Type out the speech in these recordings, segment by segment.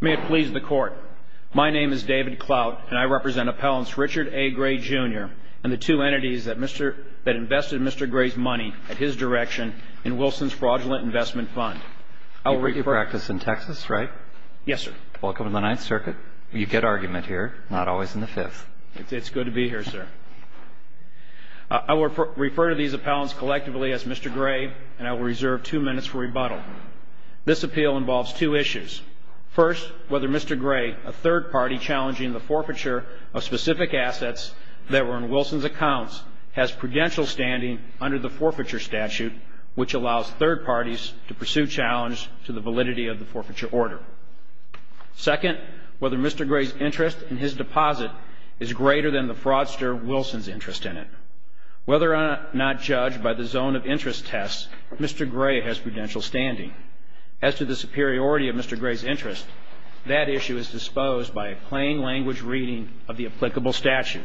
May it please the court. My name is David Clout and I represent appellants Richard A. Gray Jr. and the two entities that invested Mr. Gray's money at his direction in Wilson's fraudulent investment fund. You practice in Texas, right? Yes, sir. Welcome to the Ninth Circuit. You get argument here, not always in the Fifth. It's good to be here, sir. I will refer to these appellants collectively as Mr. Gray and I will reserve two minutes for rebuttal. This appeal involves two issues. First, whether Mr. Gray, a third party challenging the forfeiture of specific assets that were in Wilson's accounts, has prudential standing under the forfeiture statute, which allows third parties to pursue challenge to the validity of the forfeiture order. Second, whether Mr. Gray's interest in his deposit is greater than the fraudster Wilson's interest in it. Whether or not judged by the zone of interest test, Mr. Gray has prudential standing. As to the superiority of Mr. Gray's interest, that issue is disposed by a plain language reading of the applicable statute.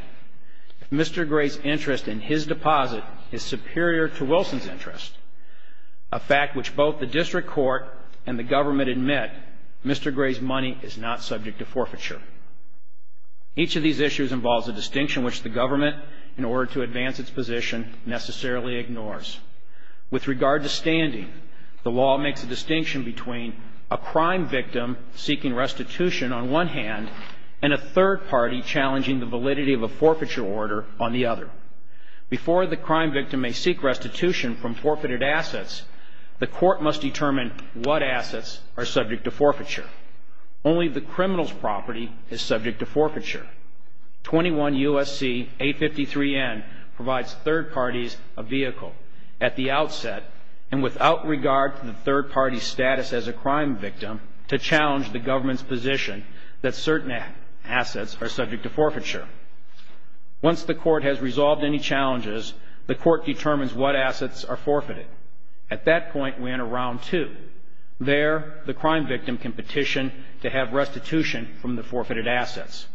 If Mr. Gray's interest in his deposit is superior to Wilson's interest, a fact which both the district court and the government admit, Mr. Gray's money is not subject to forfeiture. Each of these issues involves a distinction which the government, in order to advance its position, necessarily ignores. With regard to standing, the law makes a distinction between a crime victim seeking restitution on one hand and a third party challenging the validity of a forfeiture order on the other. Before the crime victim may seek restitution from forfeited assets, the court must determine what assets are subject to forfeiture. Only the criminal's property is subject to forfeiture. 21 U.S.C. 853N provides third parties a vehicle at the outset and without regard to the third party's status as a crime victim to challenge the government's position that certain assets are subject to forfeiture. Once the court has resolved any challenges, the court determines what assets are forfeited. At that point, we enter round two. There, the crime victim can petition to have restitution from the forfeited assets.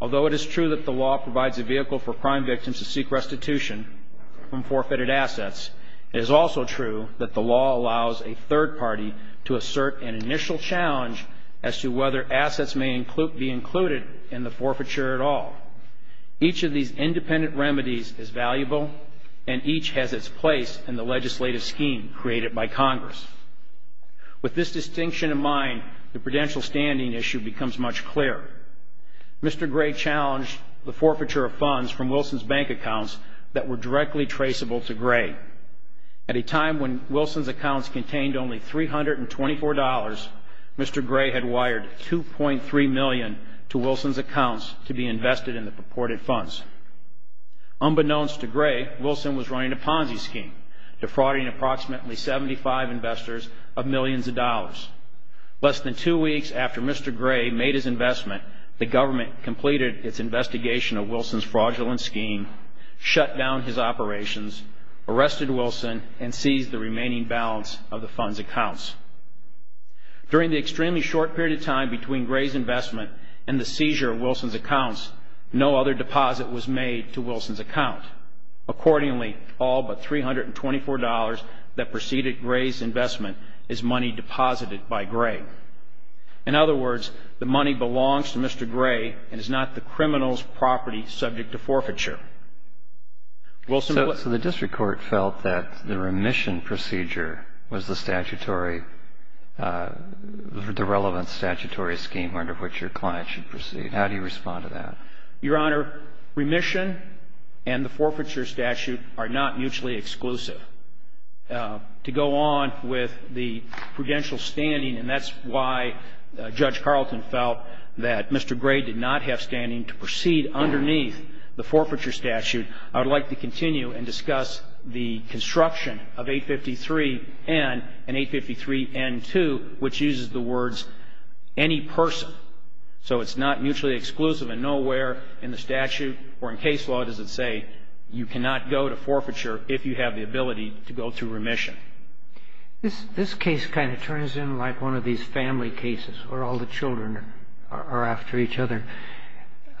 Although it is true that the law provides a vehicle for crime victims to seek restitution from forfeited assets, it is also true that the law allows a third party to assert an initial challenge as to whether assets may be included in the forfeiture at all. Each of these independent remedies is valuable and each has its place in the legislative scheme created by Congress. With this distinction in mind, the prudential standing issue becomes much clearer. Mr. Gray challenged the forfeiture of funds from Wilson's bank accounts that were directly traceable to Gray. At a time when Wilson's accounts contained only $324, Mr. Gray had wired $2.3 million to Wilson's accounts to be invested in the purported funds. Unbeknownst to Gray, Wilson was running a Ponzi scheme, defrauding approximately 75 investors of millions of dollars. Less than two weeks after Mr. Gray made his investment, the government completed its investigation of Wilson's fraudulent scheme, shut down his operations, arrested Wilson, and seized the remaining balance of the fund's accounts. During the extremely short period of time between Gray's investment and the seizure of Wilson's accounts, no other deposit was made to Wilson's account. Accordingly, all but $324 that preceded Gray's investment is money deposited by Gray. In other words, the money belongs to Mr. Gray and is not the criminal's property subject to forfeiture. So the district court felt that the remission procedure was the statutory, the relevant statutory scheme under which your client should proceed. How do you respond to that? Your Honor, remission and the forfeiture statute are not mutually exclusive. To go on with the prudential standing, and that's why Judge Carlton felt that Mr. Gray did not have standing to proceed underneath the forfeiture statute, I would like to continue and discuss the construction of 853N and 853N2, which uses the words any person. So it's not mutually exclusive and nowhere in the statute or in case law does it say you cannot go to forfeiture if you have the ability to go through remission. This case kind of turns in like one of these family cases where all the children are after each other.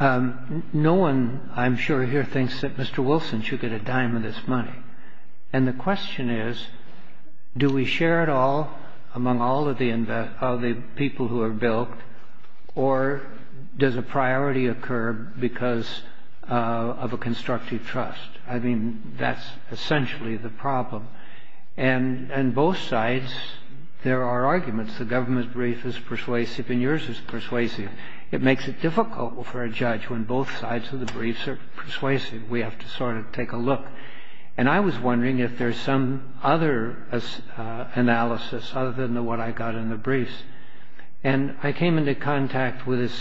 No one, I'm sure, here thinks that Mr. Wilson should get a dime of this money. And the question is, do we share it all among all of the people who are bilked, or does a priority occur because of a constructive trust? I mean, that's essentially the problem. And on both sides, there are arguments. The government brief is persuasive and yours is persuasive. It makes it difficult for a judge when both sides of the briefs are persuasive. We have to sort of take a look. And I was wondering if there's some other analysis other than what I got in the briefs. And I came into contact with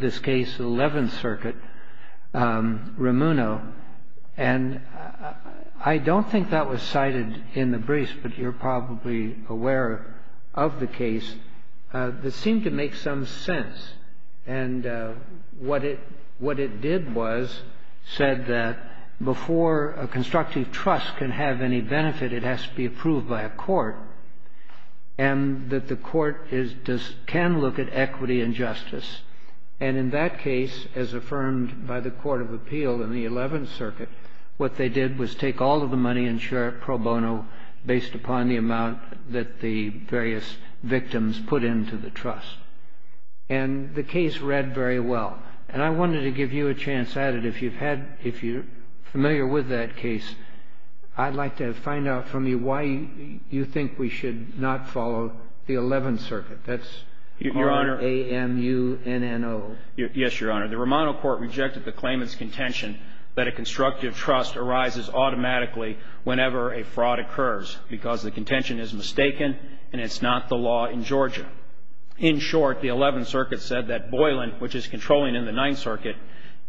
this case, 11th Circuit, Ramuno. And I don't think that was cited in the briefs, but you're probably aware of the case. This seemed to make some sense. And what it did was said that before a constructive trust can have any benefit, it has to be approved by a court, and that the court can look at equity and justice. And in that case, as affirmed by the Court of Appeal in the 11th Circuit, what they did was take all of the money and share it pro bono based upon the amount that the various victims put into the trust. And the case read very well. And I wanted to give you a chance at it. If you're familiar with that case, I'd like to find out from you why you think we should not follow the 11th Circuit. That's R-A-M-U-N-N-O. Yes, Your Honor. The Ramuno Court rejected the claimant's contention that a constructive trust arises automatically whenever a fraud occurs because the contention is mistaken and it's not the law in Georgia. In short, the 11th Circuit said that Boylan, which is controlling in the 9th Circuit,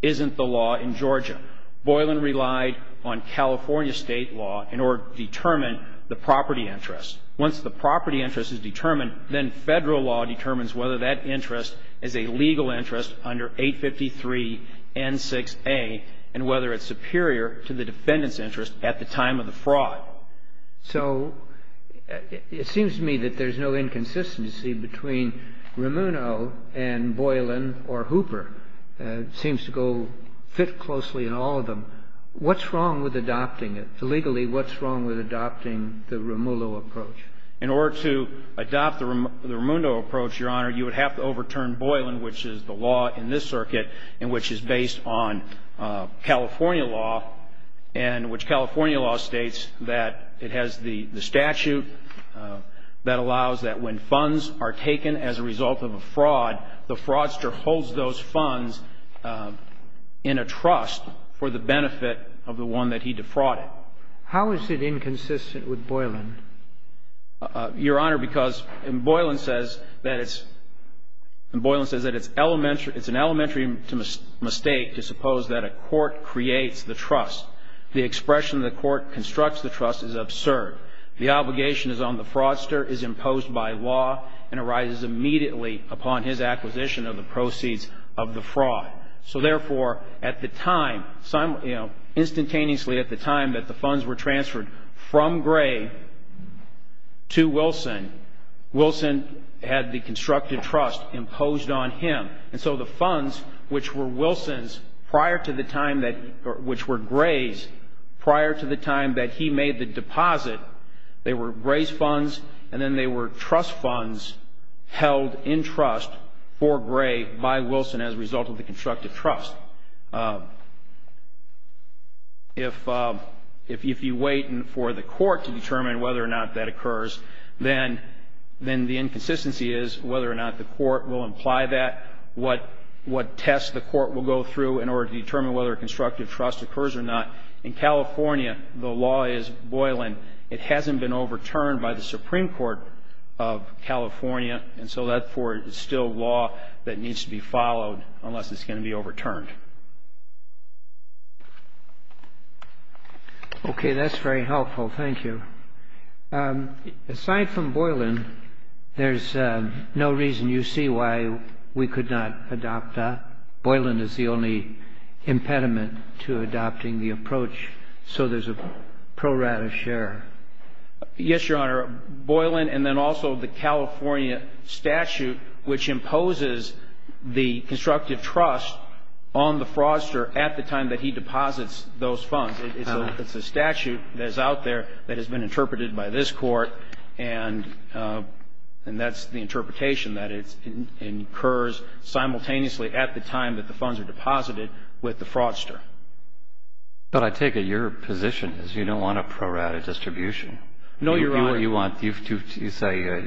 isn't the law in Georgia. Boylan relied on California State law in order to determine the property interest. Once the property interest is determined, then Federal law determines whether that interest is a legal interest under 853 N6A and whether it's superior to the defendant's interest at the time of the fraud. So it seems to me that there's no inconsistency between Ramuno and Boylan or Hooper. It seems to go fit closely in all of them. What's wrong with adopting it? Legally, what's wrong with adopting the Ramuno approach? In order to adopt the Ramuno approach, Your Honor, you would have to overturn Boylan, which is the law in this circuit and which is based on California law and which California law states that it has the statute that allows that when funds are taken as a result of a fraud, the fraudster holds those funds in a trust for the benefit of the one that he defrauded. How is it inconsistent with Boylan? Your Honor, because Boylan says that it's an elementary mistake to suppose that a court creates the trust. The expression the court constructs the trust is absurd. The obligation is on the fraudster, is imposed by law, and arises immediately upon his acquisition of the proceeds of the fraud. So therefore, at the time, instantaneously at the time that the funds were transferred from Gray to Wilson, Wilson had the constructive trust imposed on him. And so the funds, which were Gray's prior to the time that he made the deposit, they were Gray's funds and then they were trust funds held in constructed trust. If you wait for the court to determine whether or not that occurs, then the inconsistency is whether or not the court will imply that, what test the court will go through in order to determine whether a constructive trust occurs or not. In California, the law is Boylan. It hasn't been overturned by the Supreme Court of California. And so therefore, it's still law that needs to be followed unless it's going to be overturned. Okay. That's very helpful. Thank you. Aside from Boylan, there's no reason you see why we could not adopt that. Boylan is the only impediment to adopting the approach, so there's a pro-ratus share. Yes, Your Honor. There are Boylan and then also the California statute, which imposes the constructive trust on the fraudster at the time that he deposits those funds. It's a statute that is out there that has been interpreted by this Court, and that's the interpretation, that it occurs simultaneously at the time that the funds are deposited with the fraudster. But I take it your position is you don't want a pro-ratus distribution. No, Your Honor. You say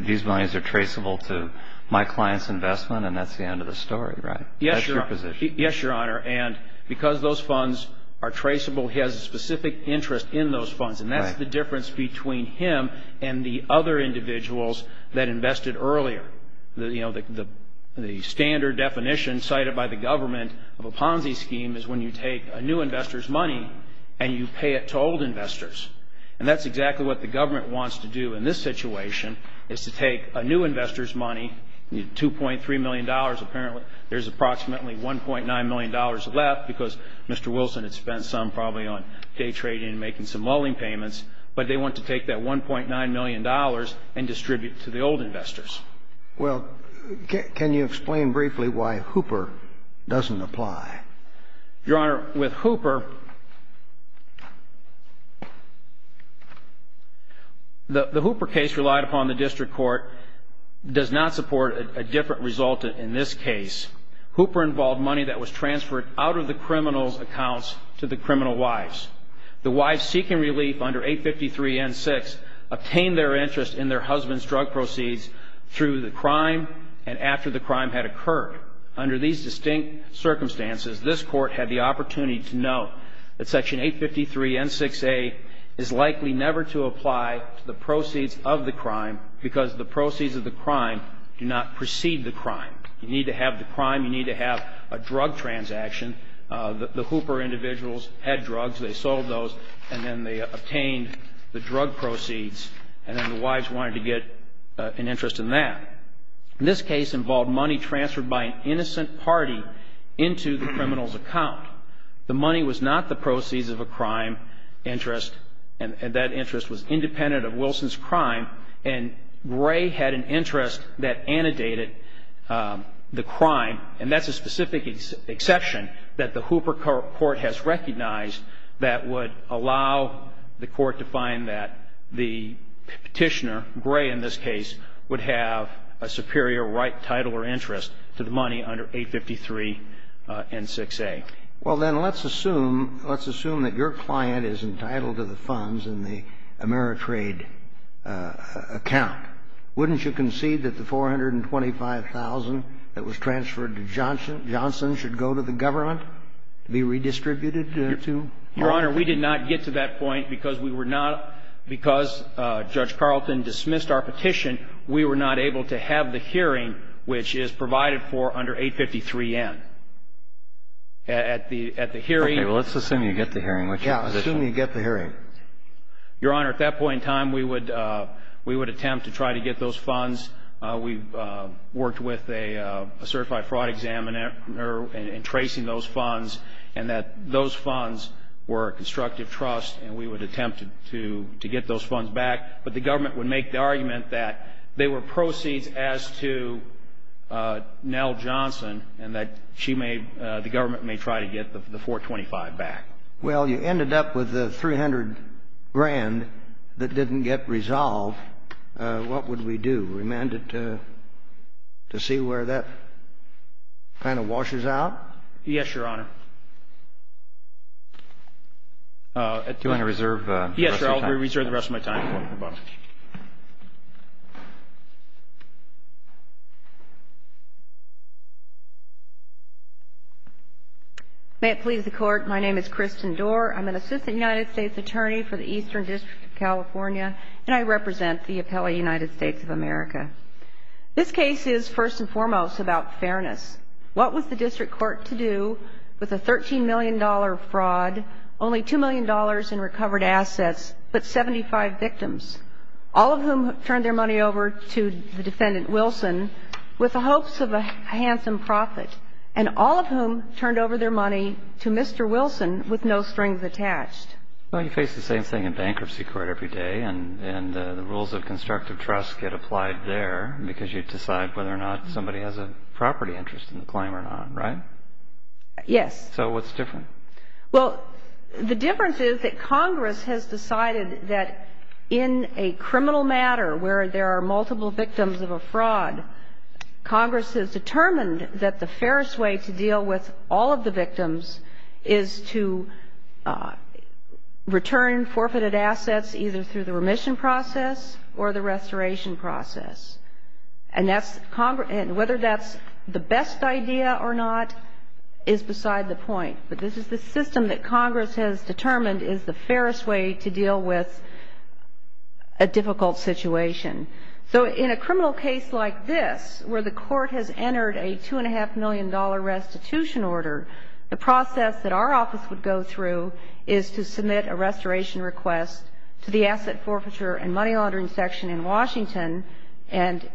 these monies are traceable to my client's investment, and that's the end of the story, right? That's your position. Yes, Your Honor. And because those funds are traceable, he has a specific interest in those funds. And that's the difference between him and the other individuals that invested earlier. The standard definition cited by the government of a Ponzi scheme is when you take a new investor's money and you pay it to old investors. And that's exactly what the government wants to do in this situation, is to take a new investor's money, $2.3 million apparently. There's approximately $1.9 million left because Mr. Wilson had spent some probably on day trading and making some mulling payments. But they want to take that $1.9 million and distribute it to the old investors. Well, can you explain briefly why Hooper doesn't apply? Your Honor, with Hooper, the Hooper case relied upon the district court does not support a different result in this case. Hooper involved money that was transferred out of the criminal's accounts to the criminal wife's. The wife's seeking relief under 853 N6 obtained their interest in their husband's drug proceeds through the crime and after the crime had occurred. Under these distinct circumstances, this court had the opportunity to know that Section 853 N6A is likely never to apply to the proceeds of the crime because the proceeds of the crime do not precede the crime. You need to have the crime. You need to have a drug transaction. The Hooper individuals had drugs. They sold those and then they obtained the drug proceeds and then the wives wanted to get an interest in that. This case involved money transferred by an innocent party into the criminal's account. The money was not the proceeds of a crime interest and that interest was independent of Wilson's crime and Gray had an interest that annotated the crime. And that's a specific exception that the Hooper court has recognized that would allow the court to find that the petitioner, Gray in this case, would have a superior right, title or interest to the money under 853 N6A. Well, then let's assume that your client is entitled to the funds in the Ameritrade account. Wouldn't you concede that the $425,000 that was transferred to Johnson should go to the government to be redistributed to? Your Honor, we did not get to that point because we were not, because Judge Carlton dismissed our petition, we were not able to have the hearing, which is provided for under 853 N. At the hearing. Well, let's assume you get the hearing. Yeah, assume you get the hearing. Your Honor, at that point in time, we would attempt to try to get those funds. We've worked with a certified fraud examiner in tracing those funds and that those funds were a constructive trust and we would attempt to get those funds back, but the government would make the argument that they were proceeds as to Nell Johnson and that she may, the government may try to get the $425,000 back. Well, you ended up with the $300,000 that didn't get resolved. What would we do? Remand it to see where that kind of washes out? Yes, Your Honor. Do you want to reserve the rest of your time? Yes, Your Honor. I'll reserve the rest of my time. May it please the Court, my name is Kristen Doerr. I'm an assistant United States attorney for the Eastern District of California, and I represent the appellee United States of America. This case is, first and foremost, about fairness. What was the district court to do with a $13 million fraud, only $2 million in recovered assets, but 75 victims, all of whom turned their money over to the defendant, Wilson, with the hopes of a handsome profit, and all of whom turned over their money to Mr. Wilson with no strings attached? Well, you face the same thing in bankruptcy court every day, and the rules of constructive trust get applied there because you decide whether or not somebody has a property interest in the claim or not, right? Yes. So what's different? Well, the difference is that Congress has decided that in a criminal matter where there are multiple victims of a fraud, Congress has returned forfeited assets either through the remission process or the restoration process. And whether that's the best idea or not is beside the point. But this is the system that Congress has determined is the fairest way to deal with a difficult situation. So in a criminal case like this, where the court has entered a $2.5 million restitution order, the process that our office would go through is to submit a restoration request to the asset forfeiture and money laundering section in Washington, and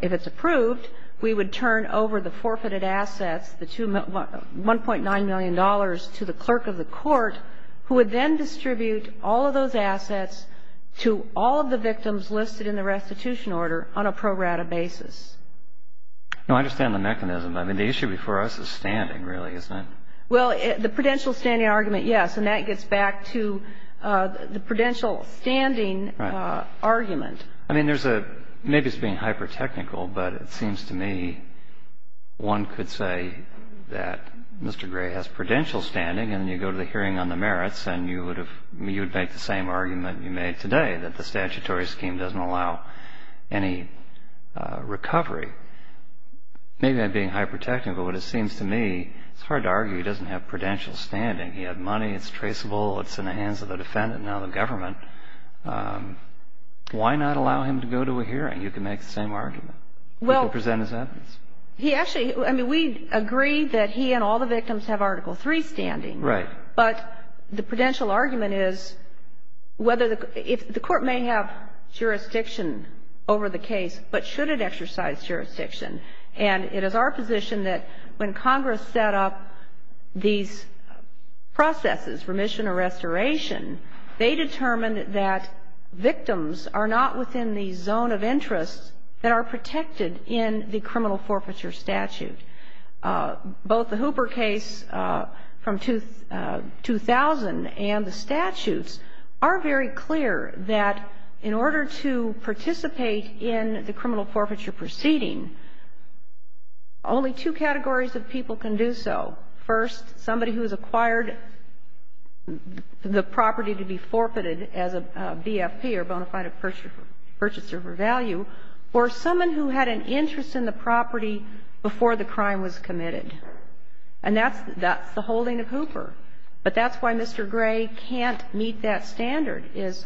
if it's approved, we would turn over the forfeited assets, the $1.9 million, to the clerk of the court, who would then distribute all of those assets to all of the victims listed in the restitution order on a pro rata basis. No, I understand the mechanism. I mean, the issue before us is standing, really, isn't it? Well, the prudential standing argument, yes, and that gets back to the prudential standing argument. Right. I mean, there's a — maybe it's being hyper-technical, but it seems to me one could say that Mr. Gray has prudential standing, and you go to the hearing on the merits, and you would have — you would make the same argument you made today, that the statutory — maybe I'm being hyper-technical, but it seems to me it's hard to argue he doesn't have prudential standing. He had money. It's traceable. It's in the hands of the defendant, now the government. Why not allow him to go to a hearing? You can make the same argument. Well — You can present his evidence. He actually — I mean, we agree that he and all the victims have Article III standing. Right. But the prudential argument is whether the — if the court may have jurisdiction over the case, but should it exercise jurisdiction and it is our position that when Congress set up these processes, remission or restoration, they determined that victims are not within the zone of interest that are protected in the criminal forfeiture statute. Both the Hooper case from 2000 and the statutes are very clear that in order to participate in the criminal forfeiture proceeding, only two categories of people can do so. First, somebody who has acquired the property to be forfeited as a BFP or bona fide purchaser for value, or someone who had an interest in the property before the crime was committed. But that's why Mr. Gray can't meet that standard, is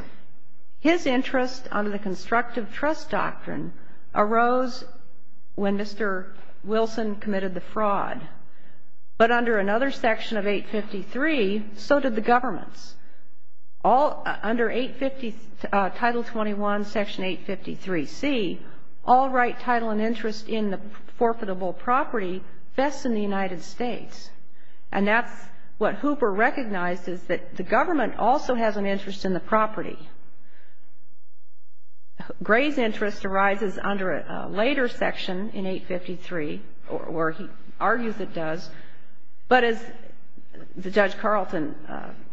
his interest on the constructive trust doctrine arose when Mr. Wilson committed the fraud. But under another section of 853, so did the government's. Under Title 21, Section 853C, all right title and interest in the forfeitable property vests in the United States. And that's what Hooper recognized is that the government also has an interest in the property. Gray's interest arises under a later section in 853 where he argues it does. But as Judge Carlton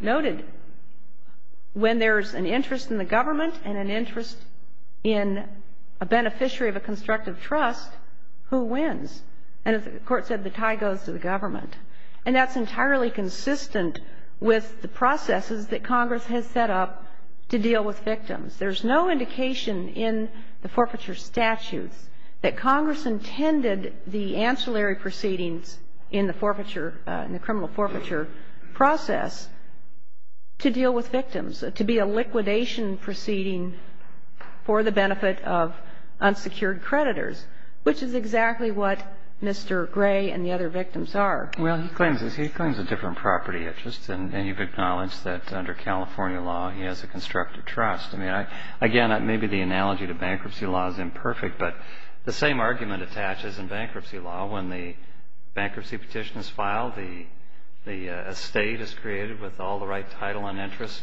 noted, when there's an interest in the government and an interest in a beneficiary of a constructive trust, who wins? And as the Court said, the tie goes to the government. And that's entirely consistent with the processes that Congress has set up to deal with victims. There's no indication in the forfeiture statutes that Congress intended the ancillary proceedings in the criminal forfeiture process to deal with victims, to be a liquidation proceeding for the benefit of unsecured creditors, which is exactly what Mr. Gray and the other victims are. Well, he claims a different property interest, and you've acknowledged that under California law he has a constructive trust. I mean, again, maybe the analogy to bankruptcy law is imperfect, but the same argument attaches in bankruptcy law. When the bankruptcy petition is filed, the estate is created with all the right title and interest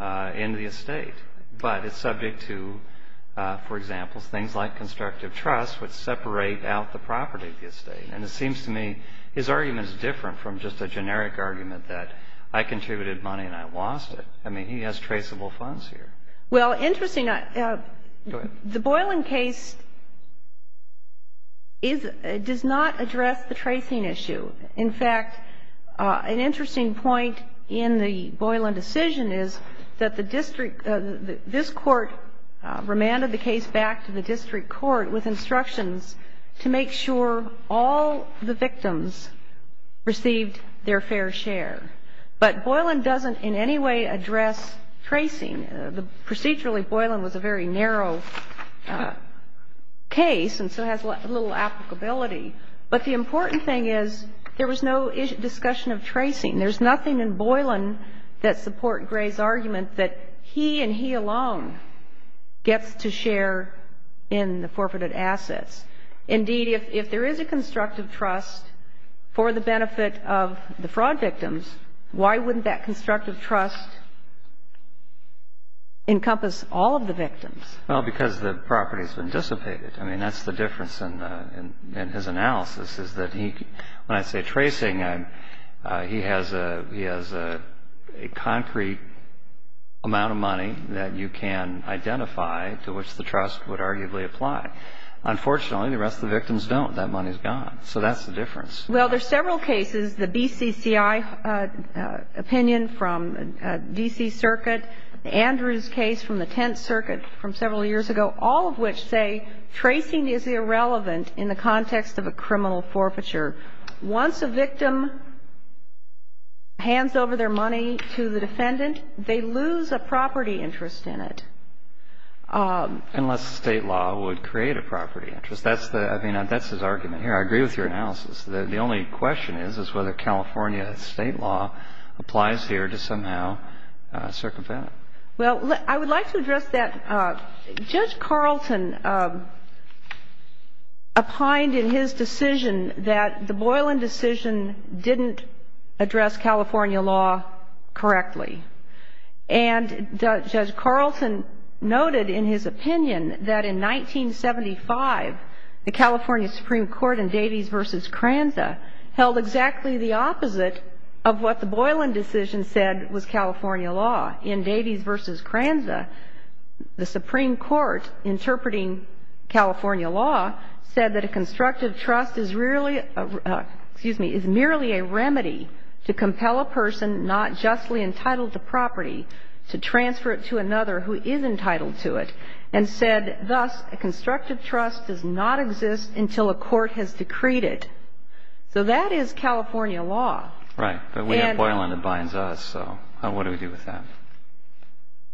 in the estate. But it's subject to, for example, things like constructive trust, which separate out the property of the estate. And it seems to me his argument is different from just a generic argument that I contributed money and I lost it. I mean, he has traceable funds here. Well, interesting. Go ahead. The Boylan case is — does not address the tracing issue. In fact, an interesting point in the Boylan decision is that the district — this Court remanded the case back to the district court with instructions to make sure all the victims received their fair share. But Boylan doesn't in any way address tracing. Procedurally, Boylan was a very narrow case and so has little applicability. But the important thing is there was no discussion of tracing. There's nothing in Boylan that support Gray's argument that he and he alone gets to share in the forfeited assets. Indeed, if there is a constructive trust for the benefit of the fraud victims, why wouldn't that constructive trust encompass all of the victims? Well, because the property has been dissipated. I mean, that's the difference in his analysis is that he — when I say tracing, he has a concrete amount of money that you can identify to which the trust would arguably apply. Unfortunately, the rest of the victims don't. That money is gone. So that's the difference. Well, there are several cases, the BCCI opinion from D.C. Circuit, Andrew's case from the Tenth Circuit from several years ago, all of which say tracing is irrelevant in the context of a criminal forfeiture. Once a victim hands over their money to the defendant, they lose a property interest in it. Unless State law would create a property interest. That's the — I mean, that's his argument here. I agree with your analysis. The only question is, is whether California State law applies here to somehow circumvent it. Well, I would like to address that. Judge Carlton opined in his decision that the Boylan decision didn't address California law correctly. And Judge Carlton noted in his opinion that in 1975, the California Supreme Court in Davies v. Kranza held exactly the opposite of what the Boylan decision said was California law. In Davies v. Kranza, the Supreme Court interpreting California law said that a constructive trust is really — excuse me — is merely a remedy to compel a person not justly entitled to a property interest to transfer it to another who is entitled to it, and said, thus, a constructive trust does not exist until a court has decreed it. So that is California law. Right. But we have Boylan that binds us, so what do we do with that?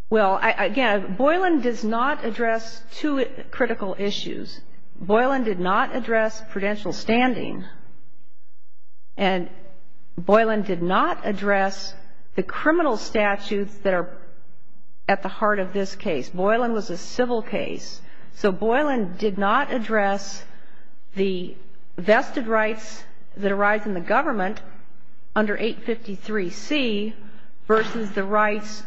Well, again, Boylan does not address two critical issues. Boylan did not address prudential standing, and Boylan did not address the criminal statutes that are at the heart of this case. Boylan was a civil case, so Boylan did not address the vested rights that arise in the government under 853C versus the rights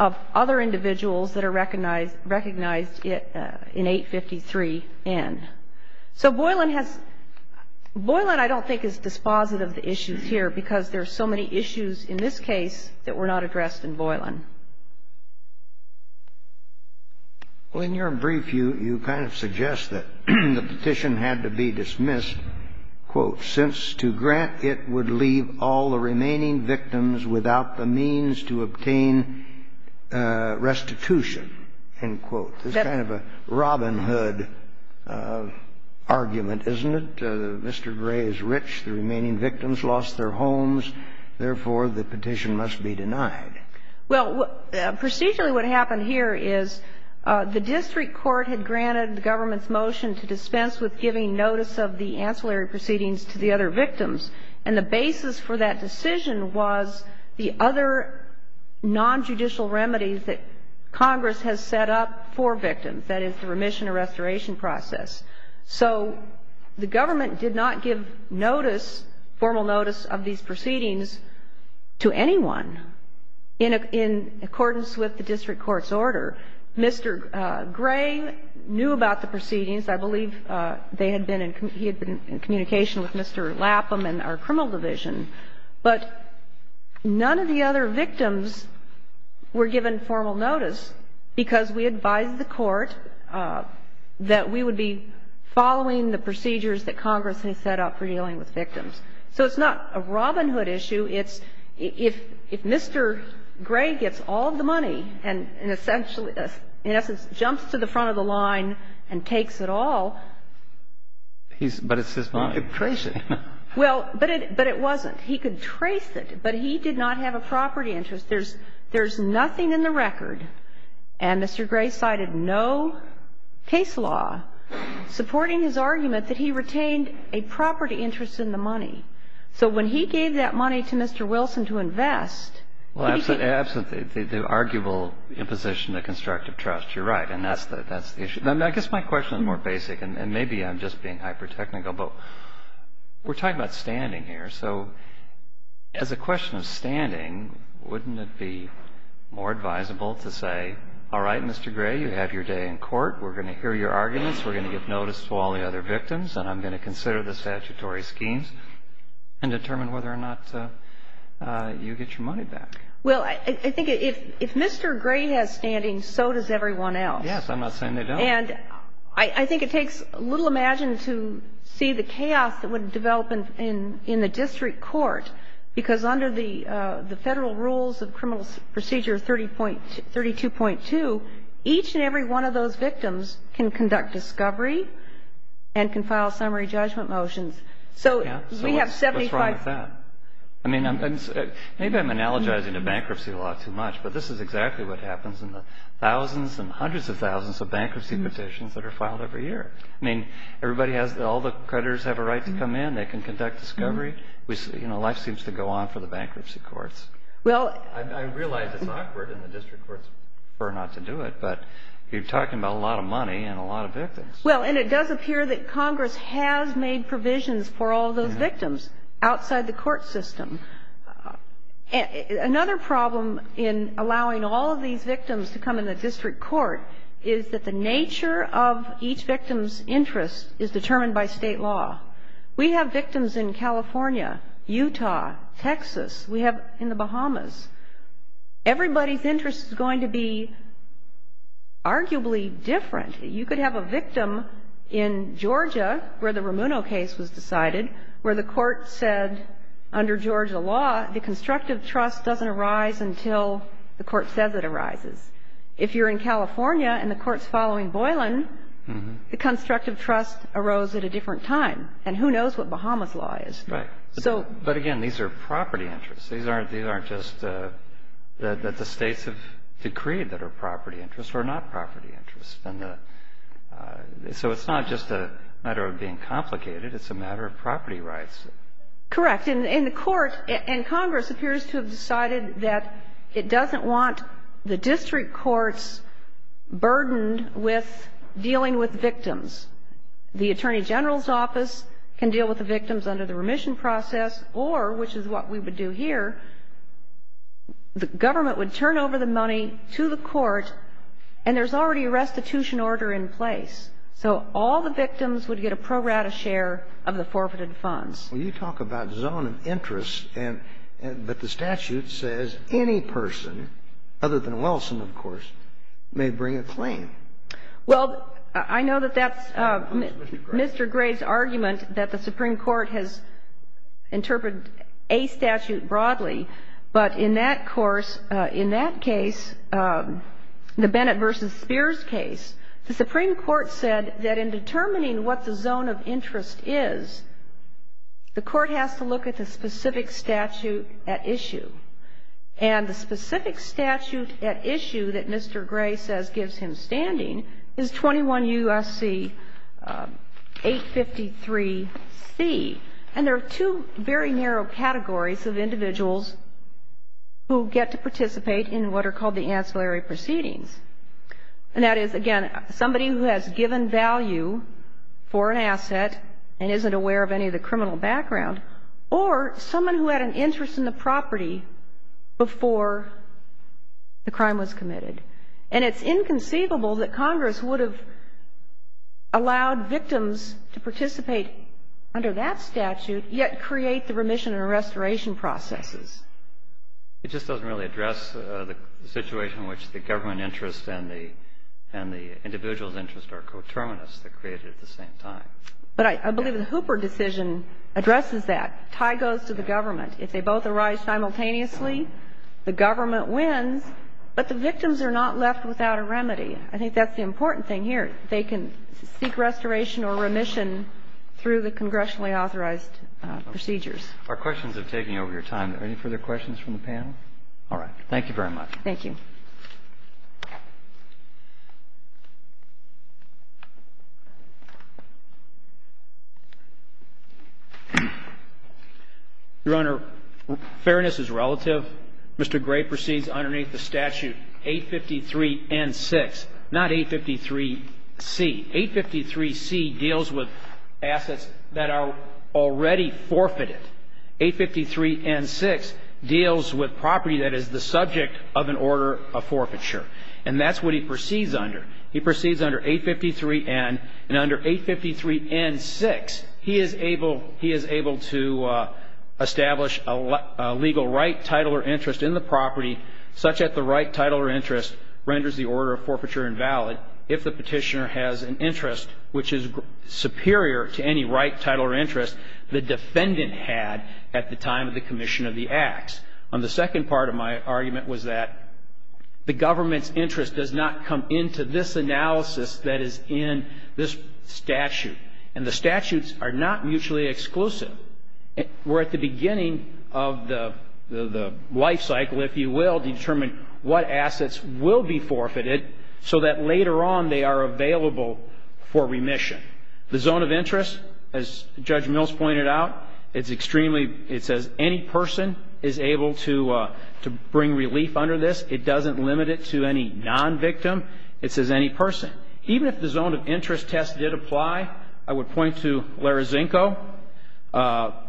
of other individuals that are recognized in 853N. So Boylan has — Boylan, I don't think, is dispositive of the issues here because there are so many issues in this case that were not addressed in Boylan. Well, in your brief, you kind of suggest that the petition had to be dismissed, quote, since to grant it would leave all the remaining victims without the means to obtain restitution, end quote. That's kind of a Robin Hood argument, isn't it? Mr. Gray is rich. The remaining victims lost their homes, therefore, the petition must be denied. Well, procedurally what happened here is the district court had granted the government's motion to dispense with giving notice of the ancillary proceedings to the other victims, and the basis for that decision was the other nonjudicial remedies that Congress has set up for victims, that is, the remission or restoration process. So the government did not give notice, formal notice of these proceedings to anyone in accordance with the district court's order. Mr. Gray knew about the proceedings. I believe they had been — he had been in communication with Mr. Lapham and our criminal division, but none of the other victims were given formal notice because we advised the court that we would be following the procedures that Congress had set up for dealing with victims. So it's not a Robin Hood issue. It's if Mr. Gray gets all of the money and essentially, in essence, jumps to the front of the line and takes it all. But it's his money. He could trace it. Well, but it wasn't. He could trace it, but he did not have a property interest. There's nothing in the record, and Mr. Gray cited no case law supporting his argument that he retained a property interest in the money. So when he gave that money to Mr. Wilson to invest, he became — Well, absent the arguable imposition of constructive trust, you're right, and that's the issue. I guess my question is more basic, and maybe I'm just being hypertechnical, but we're talking about standing here. So as a question of standing, wouldn't it be more advisable to say, all right, Mr. Gray, you have your day in court. We're going to hear your arguments. We're going to give notice to all the other victims, and I'm going to consider the statutory schemes and determine whether or not you get your money back. Well, I think if Mr. Gray has standing, so does everyone else. Yes. I'm not saying they don't. And I think it takes little imagined to see the chaos that would develop in the district court, because under the Federal rules of criminal procedure 32.2, each and every one of those victims can conduct discovery and can file summary judgment motions. So we have 75 — What's wrong with that? I mean, maybe I'm analogizing the bankruptcy law too much, but this is exactly what happens in the thousands and hundreds of thousands of bankruptcy petitions that are filed every year. I mean, everybody has — all the creditors have a right to come in. They can conduct discovery. You know, life seems to go on for the bankruptcy courts. Well — I realize it's awkward, and the district courts prefer not to do it, but you're talking about a lot of money and a lot of victims. Well, and it does appear that Congress has made provisions for all those victims outside the court system. Another problem in allowing all of these victims to come in the district court is that the nature of each victim's interest is determined by State law. We have victims in California, Utah, Texas. We have in the Bahamas. Everybody's interest is going to be arguably different. You could have a victim in Georgia where the Ramuno case was decided, where the court said under Georgia law the constructive trust doesn't arise until the court says it arises. If you're in California and the court's following Boylan, the constructive trust arose at a different time. And who knows what Bahamas law is? Right. But again, these are property interests. These aren't just — that the States have decreed that are property interests or not property interests. And so it's not just a matter of being complicated. It's a matter of property rights. Correct. And the court and Congress appears to have decided that it doesn't want the district courts burdened with dealing with victims. The Attorney General's office can deal with the victims under the remission process or, which is what we would do here, the government would turn over the money to the court, and there's already a restitution order in place. So all the victims would get a pro rata share of the forfeited funds. Well, you talk about zone of interest, but the statute says any person, other than Wilson, of course, may bring a claim. Well, I know that that's Mr. Gray's argument, that the Supreme Court has interpreted a statute broadly. But in that course, in that case, the Bennett v. Spears case, the Supreme Court said that in determining what the zone of interest is, the court has to look at the specific statute at issue. And the specific statute at issue that Mr. Gray says gives him standing is 21 U.S.C. 853C. And there are two very narrow categories of individuals who get to participate in what are called the ancillary proceedings. And that is, again, somebody who has given value for an asset and isn't aware of any of the criminal background, or someone who had an interest in the property before the crime was committed. And it's inconceivable that Congress would have allowed victims to participate under that statute, yet create the remission and restoration processes. It just doesn't really address the situation in which the government interest and the individual's interest are coterminous, they're created at the same time. But I believe the Hooper decision addresses that. Tie goes to the government. If they both arise simultaneously, the government wins, but the victims are not left without a remedy. I think that's the important thing here. They can seek restoration or remission through the congressionally authorized procedures. Our questions have taken over your time. Are there any further questions from the panel? All right. Thank you very much. Thank you. Your Honor, fairness is relative. Mr. Gray proceeds underneath the statute 853N6, not 853C. 853C deals with assets that are already forfeited. 853N6 deals with property that is the subject of an order of forfeiture. And that's what he proceeds under. He proceeds under 853N. And under 853N6, he is able to establish a legal right, title, or interest in the property, such that the right, title, or interest renders the order of forfeiture invalid if the petitioner has an interest which is superior to any right, title, or interest the defendant had at the time of the commission of the acts. On the second part of my argument was that the government's interest does not come into this analysis that is in this statute. And the statutes are not mutually exclusive. We're at the beginning of the life cycle, if you will, to determine what assets will be forfeited so that later on they are available for remission. The zone of interest, as Judge Mills pointed out, it's extremely, it says any person is able to bring relief under this. It doesn't limit it to any non-victim. It says any person. Even if the zone of interest test did apply, I would point to Larazinko,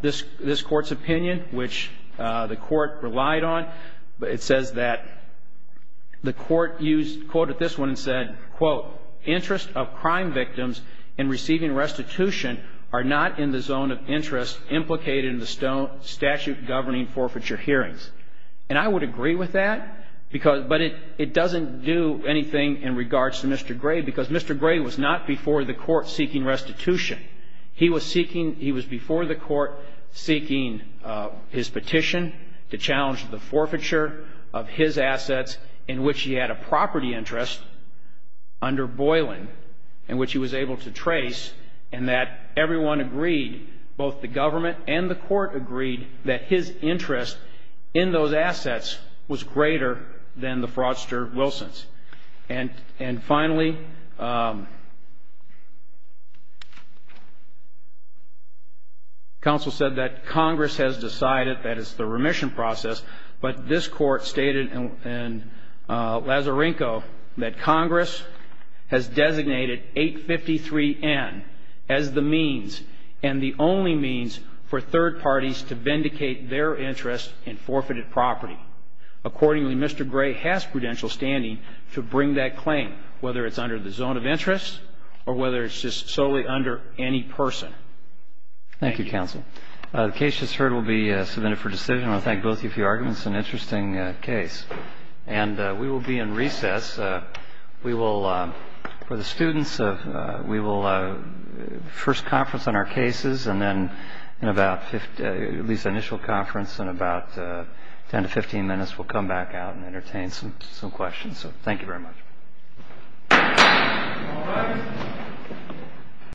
this Court's opinion, which the Court relied on. It says that the Court used, quoted this one and said, quote, interest of crime victims in receiving restitution are not in the zone of interest implicated in the statute governing forfeiture hearings. And I would agree with that, but it doesn't do anything in regards to Mr. Gray because Mr. Gray was not before the Court seeking restitution. He was seeking, he was before the Court seeking his petition to challenge the forfeiture of his assets in which he had a property interest under Boylan in which he was able to trace and that everyone agreed, both the government and the Court agreed, that his interest in those assets was greater than the fraudster Wilson's. And finally, counsel said that Congress has decided that it's the remission process, but this Court stated in Larazinko that Congress has designated 853N as the means and the only means for third parties to vindicate their interest in forfeited property. Accordingly, Mr. Gray has prudential standing to bring that claim, whether it's under the zone of interest or whether it's just solely under any person. Thank you. Thank you, counsel. The case, as heard, will be submitted for decision. I want to thank both of you for your arguments. It's an interesting case. And we will be in recess. We will, for the students, we will first conference on our cases and then in about at least the initial conference in about 10 to 15 minutes we'll come back out and entertain some questions. So thank you very much.